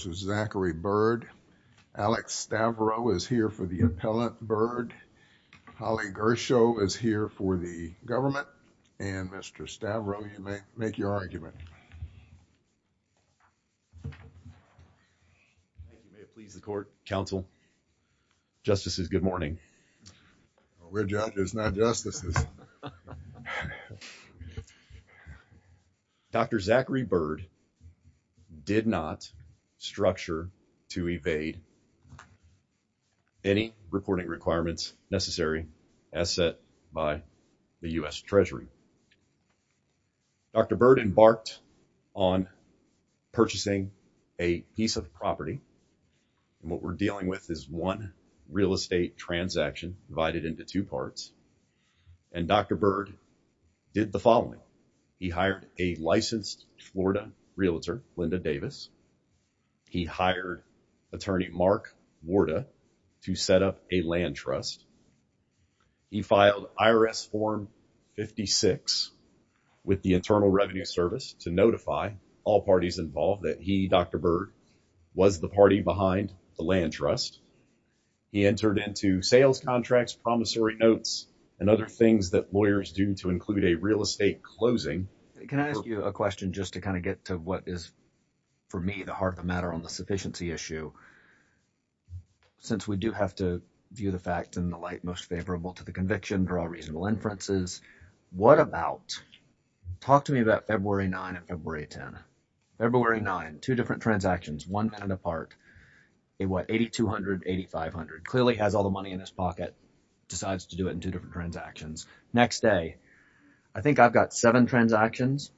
Dr. Zachary Bird, Alex Stavro is here for the appellant Bird, Holly Gersho is here for the government, and Mr. Stavro, you may make your argument. If you may please the court, counsel, justices, good morning. We're judges, not justices. Dr. Zachary Bird did not structure to evade any reporting requirements necessary as set by the U.S. Treasury. Dr. Bird embarked on purchasing a piece of property, and what we're dealing with is one real estate transaction divided into two parts, and Dr. Bird did the following. He hired a licensed Florida realtor, Linda Davis. He hired attorney Mark Warda to set up a land trust. He filed IRS form 56 with the Internal Revenue Service to notify all parties involved that he, Dr. Bird, was the party behind the land trust. He entered into sales contracts, promissory notes, and other things that lawyers do to include a real estate closing. Can I ask you a question just to kind of get to what is, for me, the heart of the matter on the sufficiency issue? Since we do have to view the facts in the light most favorable to the conviction, draw reasonable inferences, what about, talk to me about February 9 and February 10. February 9, two different transactions, one minute apart, 8,200, 8,500. Clearly has all the money in his pocket, decides to do it in two different transactions. Next day, I think I've got seven transactions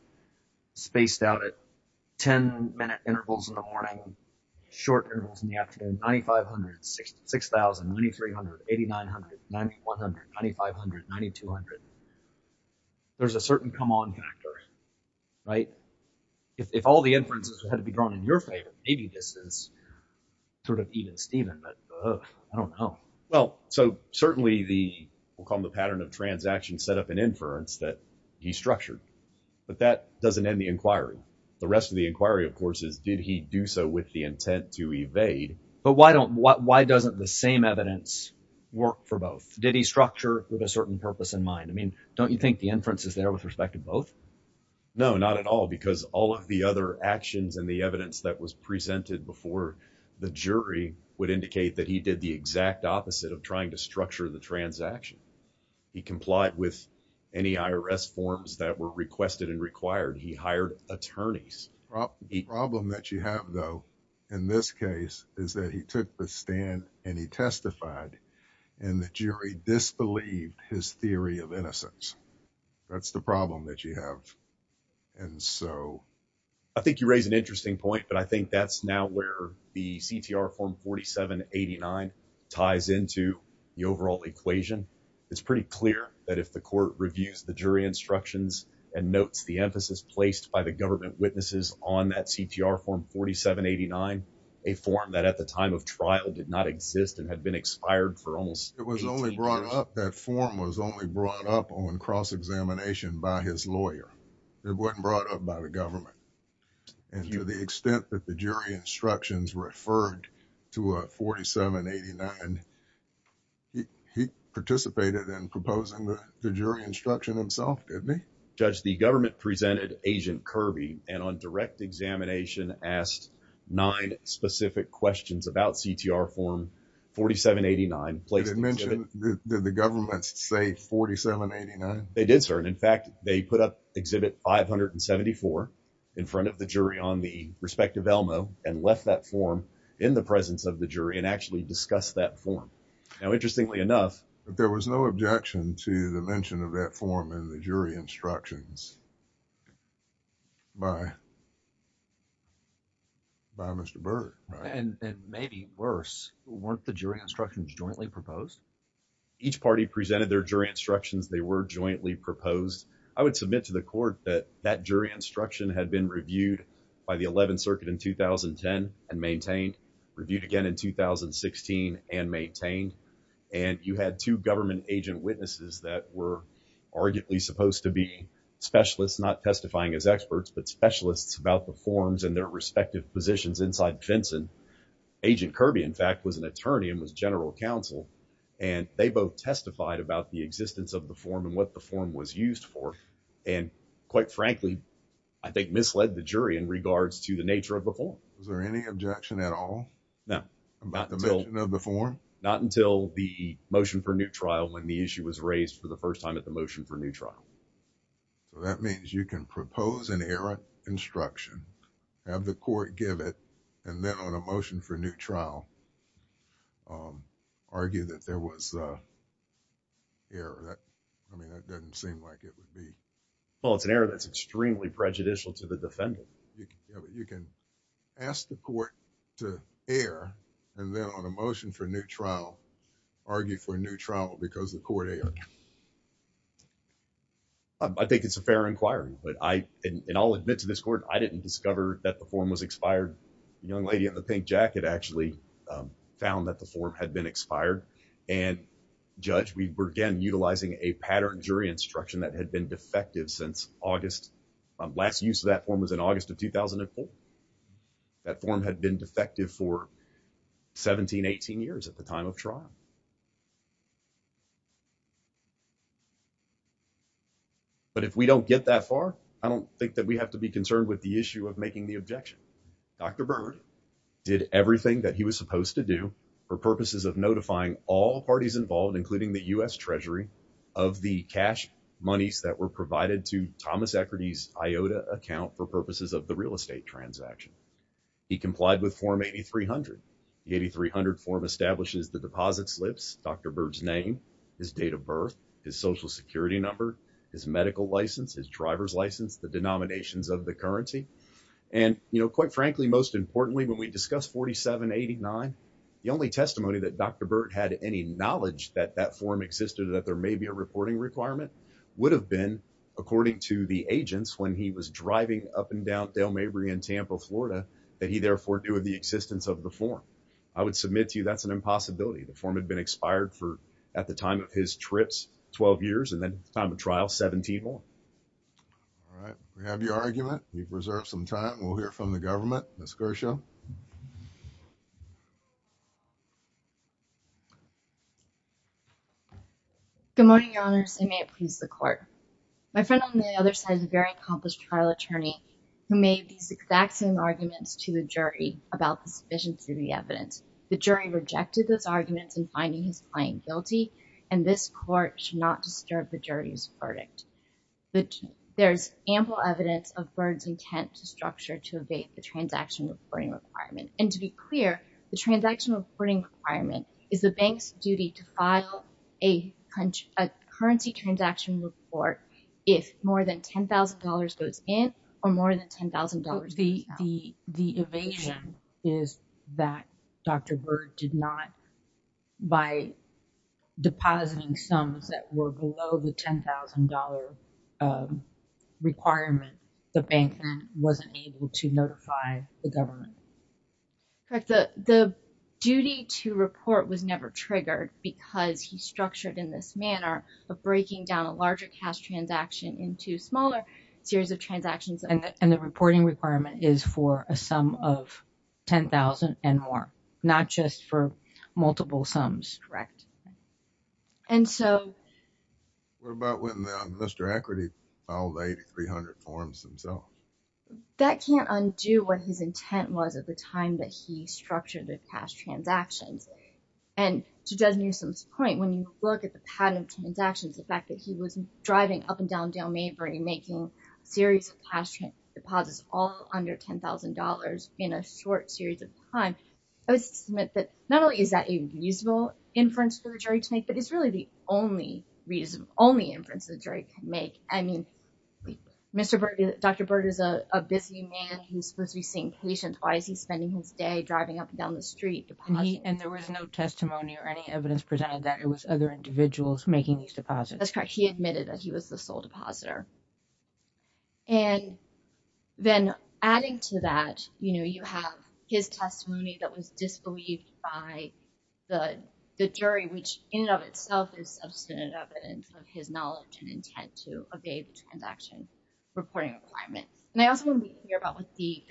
spaced out at 10-minute intervals in the morning, short intervals in the afternoon, 9,500, 6,000, 9,300, 8,900, 9,100, 9,500, 9,200. There's a certain come on factor, right? If all the inferences had to be drawn in your favor, maybe this is sort of even-steven, but I don't know. Well, so certainly the, we'll call them the pattern of transactions set up in inference that he structured, but that doesn't end the inquiry. The rest of the inquiry, of course, is did he do so with the intent to evade? But why doesn't the same evidence work for both? Did he structure with a certain purpose in mind? I mean, don't you think the inference is there with respect to both? No, not at all, because all of the other actions and the evidence that was presented before the jury would indicate that he did the exact opposite of trying to structure the transaction. He complied with any IRS forms that were requested and required. He hired attorneys. The problem that you have though, in this case, is that he took the stand and he testified and the jury disbelieved his theory of innocence. That's the problem that you have. And so... I think you raise an interesting point, but I think that's now where the CTR form 4789 ties into the overall equation. It's pretty clear that if the court reviews the jury instructions and notes the emphasis placed by the government witnesses on that CTR form 4789, a form that at the time of It was only brought up, that form was only brought up on cross-examination by his lawyer. It wasn't brought up by the government. And to the extent that the jury instructions referred to a 4789, he participated in proposing the jury instruction himself, didn't he? Judge, the government presented Agent Kirby and on direct examination asked nine specific questions about CTR form 4789. Did it mention, did the government say 4789? They did, sir. And in fact, they put up exhibit 574 in front of the jury on the respective ELMO and left that form in the presence of the jury and actually discussed that form. Now, interestingly enough. There was no objection to the mention of that form in the jury instructions by Mr. Burke. And maybe worse, weren't the jury instructions jointly proposed? Each party presented their jury instructions. They were jointly proposed. I would submit to the court that that jury instruction had been reviewed by the 11th Circuit in 2010 and maintained, reviewed again in 2016 and maintained. And you had two government agent witnesses that were arguably supposed to be specialists not testifying as experts, but specialists about the forms and their respective positions inside Vinson. Agent Kirby, in fact, was an attorney and was general counsel, and they both testified about the existence of the form and what the form was used for. And quite frankly, I think misled the jury in regards to the nature of the form. Was there any objection at all about the mention of the form? Not until the motion for new trial, when the issue was raised for the first time at the motion for new trial. So, that means you can propose an error instruction, have the court give it, and then on a motion for new trial, argue that there was an error. I mean, that doesn't seem like it would be... Well, it's an error that's extremely prejudicial to the defendant. You can ask the court to err, and then on a motion for new trial, argue for a new trial because the court erred. I think it's a fair inquiry, but I... and I'll admit to this court, I didn't discover that the form was expired. The young lady in the pink jacket actually found that the form had been expired, and Judge, we were again utilizing a pattern jury instruction that had been defective since August... last use of that form was in August of 2004. That form had been defective for 17, 18 years at the time of trial. But if we don't get that far, I don't think that we have to be concerned with the issue of making the objection. Dr. Berger did everything that he was supposed to do for purposes of notifying all parties involved, including the U.S. Treasury, of the cash monies that were provided to Thomas He complied with Form 8300. The 8300 form establishes the deposit slips, Dr. Bert's name, his date of birth, his social security number, his medical license, his driver's license, the denominations of the currency. And, you know, quite frankly, most importantly, when we discussed 4789, the only testimony that Dr. Bert had any knowledge that that form existed, that there may be a reporting requirement, would have been, according to the agents, when he was driving up and down Dale Mabry in Tampa, Florida, that he therefore knew of the existence of the form. I would submit to you that's an impossibility. The form had been expired for, at the time of his trips, 12 years, and then time of trial, 17 more. All right. We have your argument. We've reserved some time. We'll hear from the government. Ms. Gershow. Good morning, Your Honors. And may it please the court. My friend on the other side is a very accomplished trial attorney, who made a very, very, very clear argument. He made these exact same arguments to the jury about the sufficiency of the evidence. The jury rejected those arguments in finding his client guilty, and this court should not disturb the jury's verdict. There's ample evidence of Bert's intent to structure to evade the transaction reporting requirement. And to be clear, the transaction reporting requirement is the bank's duty to file a currency transaction report if more than $10,000 goes in or more than $10,000 goes out. The evasion is that Dr. Bert did not, by depositing sums that were below the $10,000 requirement, the bank then wasn't able to notify the government. Correct. The duty to report was never triggered because he structured in this manner of breaking down a larger cash transaction into smaller series of transactions. And the reporting requirement is for a sum of $10,000 and more, not just for multiple sums. Correct. And so... What about when Mr. Equity filed 8,300 forms himself? That can't undo what his intent was at the time that he structured the cash transactions. And to Judge Newsom's point, when you look at the pattern of transactions, the fact that he was driving up and down Dale Maverick and making a series of cash deposits all under $10,000 in a short series of time, I would submit that not only is that a reasonable inference for the jury to make, but it's really the only inference the jury can make. I mean, Dr. Berger is a busy man who's supposed to be seeing patients. Why is he spending his day driving up and down the street depositing? And there was no testimony or any evidence presented that it was other individuals making these deposits. That's correct. He admitted that he was the sole depositor. And then adding to that, you have his testimony that was disbelieved by the jury, which in and of itself is substantive evidence of his knowledge and intent to obey the transaction reporting requirements. And I also want to be clear about what the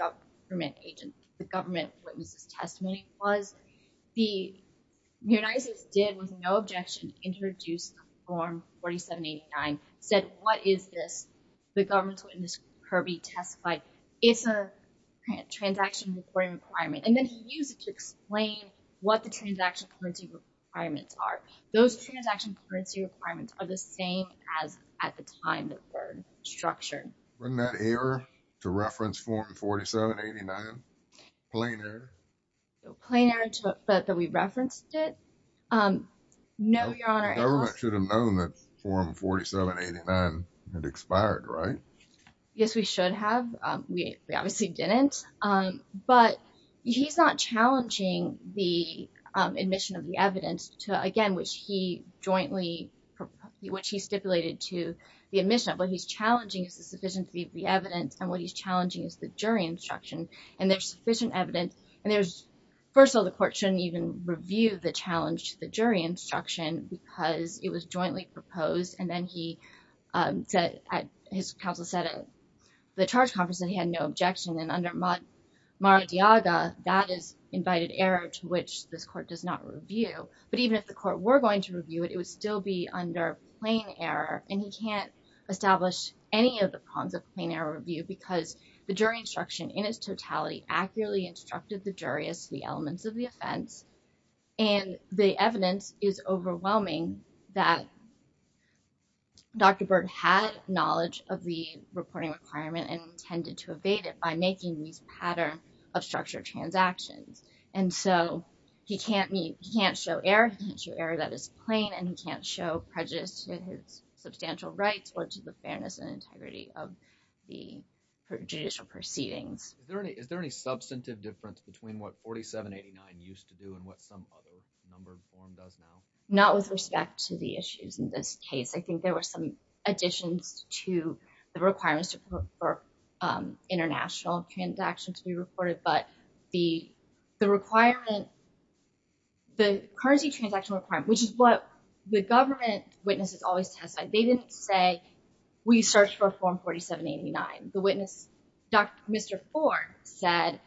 government witness' testimony was. The United States did, with no objection, introduce Form 4789, said, what is this? The government witness, Kirby, testified, it's a transaction reporting requirement. And then he used it to explain what the transaction reporting requirements are. Those transaction reporting requirements are the same as at the time that were structured. Bring that error to reference Form 4789, plain error. Plain error, but that we referenced it? No, Your Honor. The government should have known that Form 4789 had expired, right? Yes, we should have. We obviously didn't. But he's not challenging the admission of the evidence to, again, which he jointly, which he stipulated to the admission of what he's challenging is the sufficiency of the evidence and what he's challenging is the jury instruction. And there's sufficient evidence, and there's, first of all, the court shouldn't even review the challenge to the jury instruction because it was jointly proposed. And then he said, his counsel said at the charge conference that he had no objection. And under Mar-a-Diaga, that is invited error to which this court does not review. But even if the court were going to review it, it would still be under plain error. And he can't establish any of the prongs of plain error review because the jury instruction in its totality accurately instructed the jury as to the elements of the offense. And the evidence is overwhelming that Dr. Byrd had knowledge of the reporting requirement and intended to evade it by making these pattern of structured transactions. And so, he can't meet, he can't show error, he can't show error that is plain and he can't show prejudice to his substantial rights or to the fairness and integrity of the judicial proceedings. Is there any, is there any substantive difference between what 4789 used to do and what some other numbered form does now? Not with respect to the issues in this case. I think there were some additions to the requirements for international transactions to be reported. But the requirement, the currency transaction requirement, which is what the government witnesses always testified, they didn't say, we searched for a form 4789. The witness, Mr. Ford said,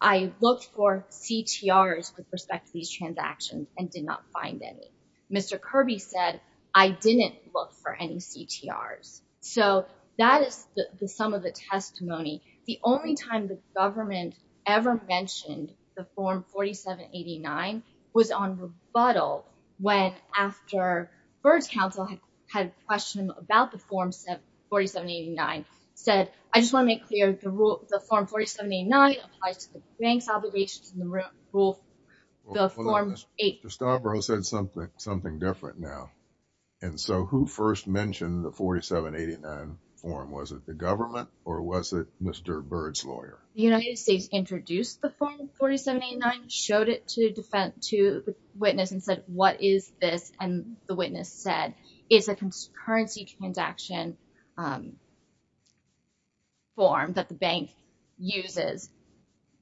I looked for CTRs with respect to these transactions and did not find any. Mr. Kirby said, I didn't look for any CTRs. So that is the sum of the testimony. The only time the government ever mentioned the form 4789 was on rebuttal when after Byrd's counsel had questioned him about the form 4789, said, I just want to make clear the rule, the form 4789 applies to the bank's obligations and the rule, the form 8. Mr. Stavro said something, something different now. And so who first mentioned the 4789 form? Was it the government or was it Mr. Byrd's lawyer? The United States introduced the form 4789, showed it to the witness and said, what is this? And the witness said, it's a currency transaction form that the bank uses,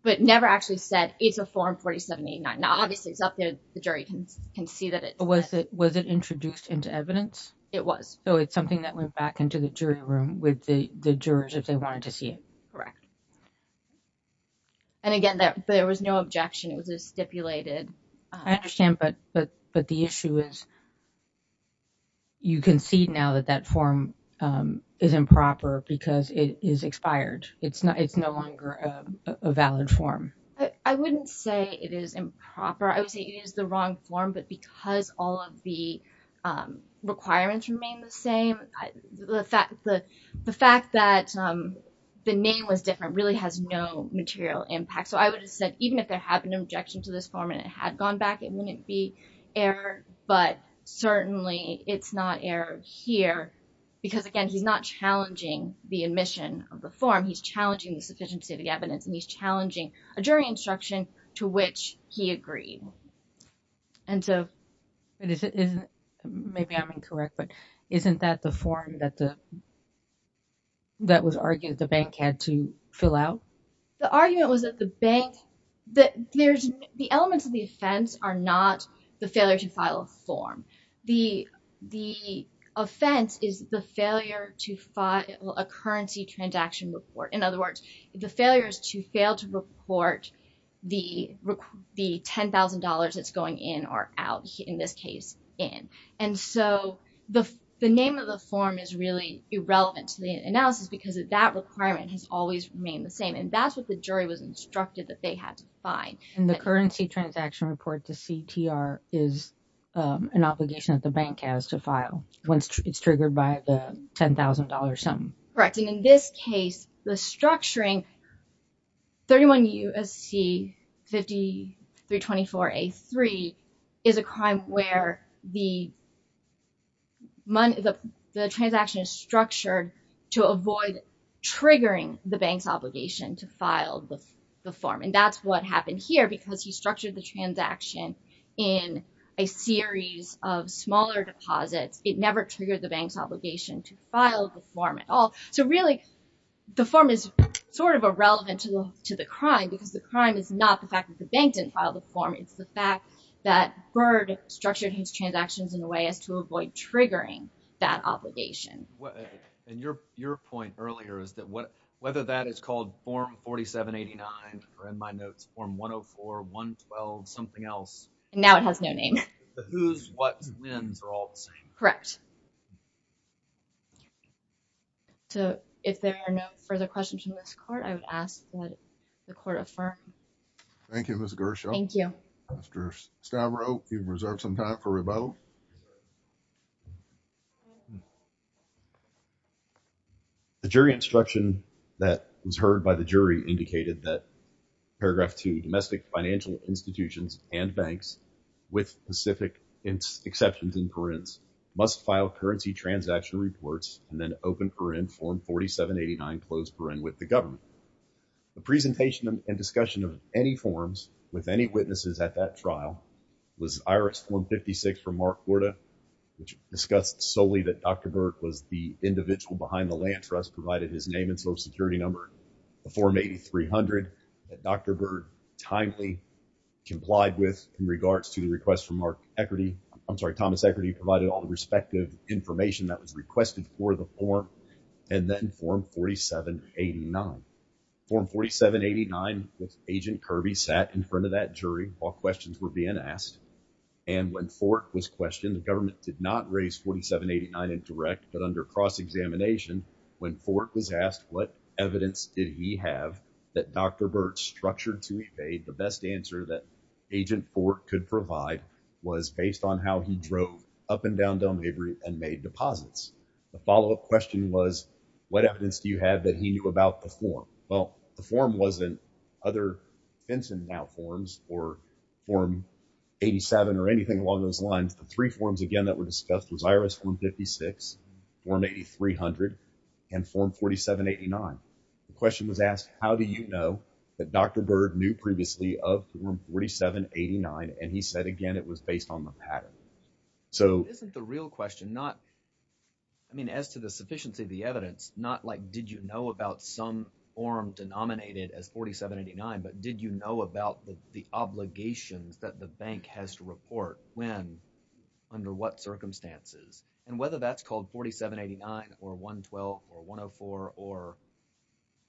but never actually said it's a form 4789. Now, obviously it's up there. The jury can see that it was it was it introduced into evidence? It was. So it's something that went back into the jury room with the jurors if they wanted to see it. Correct. And again, there was no objection, it was stipulated. I understand. But but but the issue is. You can see now that that form is improper because it is expired. It's not it's no longer a valid form. I wouldn't say it is improper. I would say it is the wrong form, but because all of the requirements remain the same, the fact that the fact that the name was different really has no material impact. So I would have said even if there had been an objection to this form and it had gone back, it wouldn't be error. But certainly it's not error here because, again, he's not challenging the admission of the form. He's challenging the sufficiency of the evidence and he's challenging a jury instruction to which he agreed. And so. Maybe I'm incorrect, but isn't that the form that the that was argued the bank had to fill out? The argument was that the bank that there's the elements of the offense are not the failure to file a form. The the offense is the failure to file a currency transaction report. In other words, the failure is to fail to report the the ten thousand dollars that's going in or out, in this case in. And so the the name of the form is really irrelevant to the analysis because that requirement has always remained the same. And that's what the jury was instructed that they had to find. And the currency transaction report to CTR is an obligation that the bank has to file once it's triggered by the ten thousand dollars sum. Correct. And in this case, the structuring 31 U.S.C. 5324 A3 is a crime where the the transaction is structured to avoid triggering the bank's obligation to file the form. And that's what happened here, because he structured the transaction in a series of smaller deposits. It never triggered the bank's obligation to file the form at all. So really, the form is sort of irrelevant to the to the crime because the crime is not the fact that the bank didn't file the form. It's the fact that Byrd structured his transactions in a way as to avoid triggering that obligation. And your your point earlier is that whether that is called Form 4789 or in my notes, Form 104, 112, something else. And now it has no name. The who's, what's, when's are all the same. Correct. So if there are no further questions from this court, I would ask that the court affirm. Thank you, Ms. Gershaw. Thank you. Mr. Stavro, you've reserved some time for rebuttal. The jury instruction that was heard by the jury indicated that paragraph two, domestic financial institutions and banks with specific exceptions in parents must file currency transaction reports and then open for in Form 4789, close for in with the government. The presentation and discussion of any forms with any witnesses at that trial was IRS 156 from Mark Borda, which discussed solely that Dr. Burt was the individual behind the land trust, provided his name and social security number for me. Three hundred. Dr. Burt timely complied with in regards to the request from our equity. I'm sorry. Thomas Equity provided all the respective information that was requested for the form and then Form 4789. Form 4789 with Agent Kirby sat in front of that jury while questions were being asked and when Fork was questioned, the government did not raise 4789 in direct, but under cross-examination, when Fork was asked what evidence did he have that Dr. Burt structured to evade the best answer that Agent Fork could provide was based on how he drove up and down Delmarva and made deposits. The follow up question was, what evidence do you have that he knew about the form? Well, the form wasn't other Fenton now forms or form 87 or anything along those lines. The three forms, again, that were discussed was IRS 156, Form 8300 and Form 4789. The question was asked, how do you know that Dr. Burt knew previously of Form 4789? And he said again, it was based on the pattern. So isn't the real question not. I mean, as to the sufficiency of the evidence, not like did you know about some form denominated as 4789, but did you know about the obligations that the bank has to report when under what circumstances and whether that's called 4789 or 112 or 104 or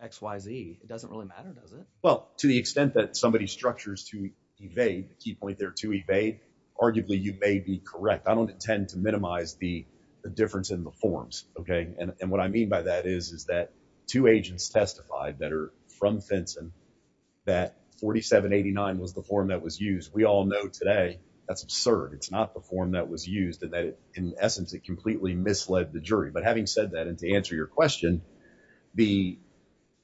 X, Y, Z, it doesn't really matter, does it? Well, to the extent that somebody structures to evade the key point there to evade, arguably you may be correct. I don't intend to minimize the difference in the forms. OK. And what I mean by that is, is that two agents testified that are from Fenton that 4789 was the form that was used. We all know today that's absurd. It's not the form that was used and that in essence, it completely misled the jury. But having said that, and to answer your question, the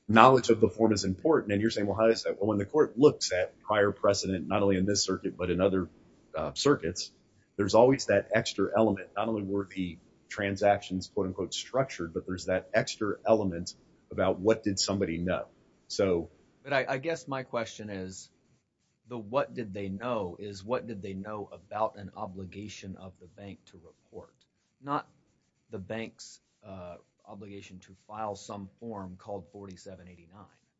knowledge of the form is important. And you're saying, well, how is that when the court looks at prior precedent, not only in this circuit, but in other circuits, there's always that extra element, not only were the transactions, quote unquote, structured, but there's that extra element about what did somebody know? So I guess my question is, though, what did they know is what did they know about an obligation of the bank to report, not the bank's obligation to file some form called 4789?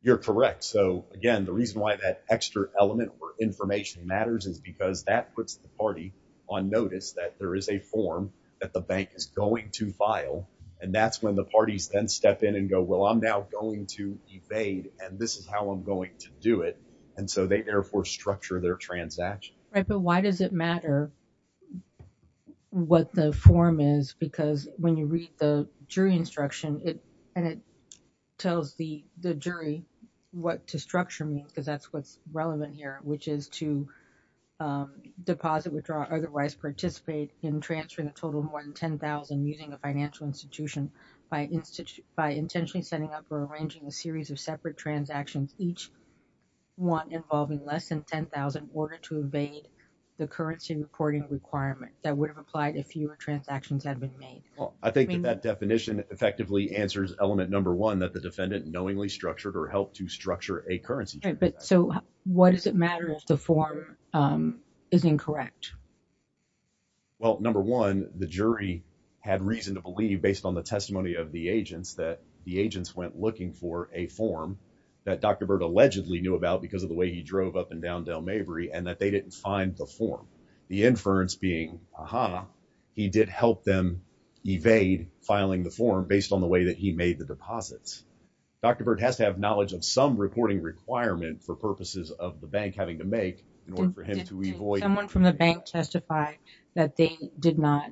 You're correct. So, again, the reason why that extra element or information matters is because that puts the party on notice that there is a form that the bank is going to file. And that's when the parties then step in and go, well, I'm now going to evade and this is how I'm going to do it. And so they therefore structure their transaction. Right. But why does it matter what the form is? Because when you read the jury instruction and it tells the jury what to structure means, because that's what's relevant here, which is to deposit, withdraw, otherwise participate in transferring a total more than 10,000 using a financial institution by institution, by intentionally setting up or arranging a series of separate transactions, each one involving less than 10,000 in order to evade the currency reporting requirement that would have applied if fewer transactions had been made. Well, I think that definition effectively answers element number one, that the defendant knowingly structured or helped to structure a currency. So what does it matter if the form is incorrect? Well, number one, the jury had reason to believe, based on the testimony of the agents, that the agents went looking for a form that Dr. Bird allegedly knew about because of the way he drove up and down Delmaverie and that they didn't find the form. The inference being, aha, he did help them evade filing the form based on the way that he made the deposits. Dr. Bird has to have knowledge of some reporting requirement for purposes of the bank having to make in order for him to avoid- Did someone from the bank testify that they did not,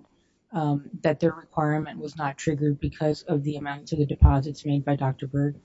that their requirement was not triggered because of the amount of the deposits made by Dr. Bird?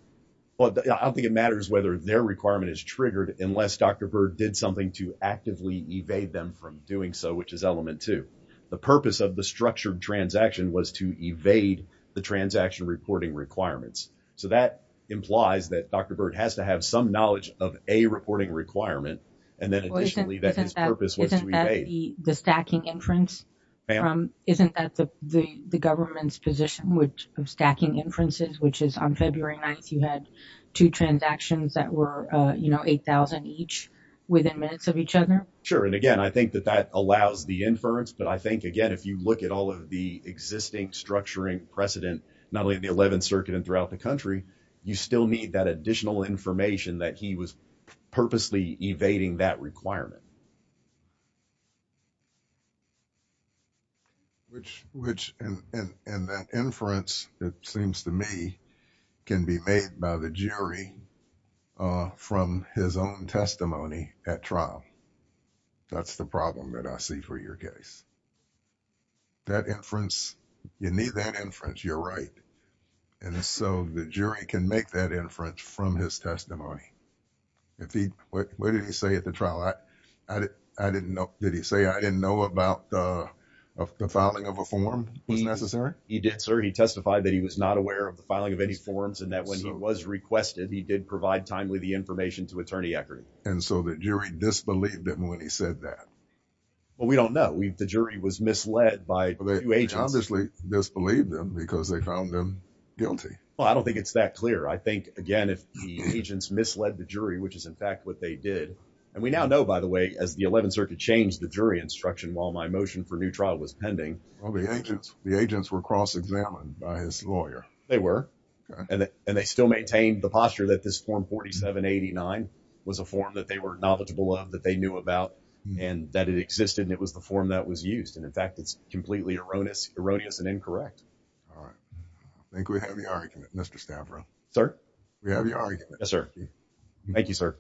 Well, I don't think it matters whether their requirement is triggered unless Dr. Bird did something to actively evade them from doing so, which is element two. The purpose of the structured transaction was to evade the transaction reporting requirements. So that implies that Dr. Bird has to have some knowledge of a reporting requirement. And then additionally, that his purpose was to evade- Isn't that the stacking inference? Isn't that the government's position with stacking inferences, which is on February 9th, you had two transactions that were, you know, 8,000 each within minutes of each other? Sure. And again, I think that that allows the inference. But I think, again, if you look at all of the existing structuring precedent, not only the 11th circuit and throughout the country, you still need that additional information that he was purposely evading that requirement. Which, and that inference, it seems to me, can be made by the jury from his own testimony at trial. That's the problem that I see for your case. That inference, you need that inference. You're right. And so the jury can make that inference from his testimony. If he, what did he say at the trial? I didn't know. Did he say, I didn't know about the filing of a form was necessary? He did, sir. He testified that he was not aware of the filing of any forms and that when he was requested, he did provide timely the information to Attorney Eckert. And so the jury disbelieved him when he said that? Well, we don't know. The jury was misled by two agents. Misbelieved them because they found them guilty. Well, I don't think it's that clear. I think again, if the agents misled the jury, which is in fact what they did, and we now know, by the way, as the 11th circuit changed the jury instruction, while my motion for new trial was pending. All the agents, the agents were cross-examined by his lawyer. They were, and they still maintained the posture that this form 4789 was a form that they were knowledgeable of, that they knew about and that it existed. And it was the form that was used. And in fact, it's completely erroneous, erroneous and incorrect. All right. I think we have your argument, Mr. Stavro. Sir, we have your argument. Yes, sir. Thank you, sir.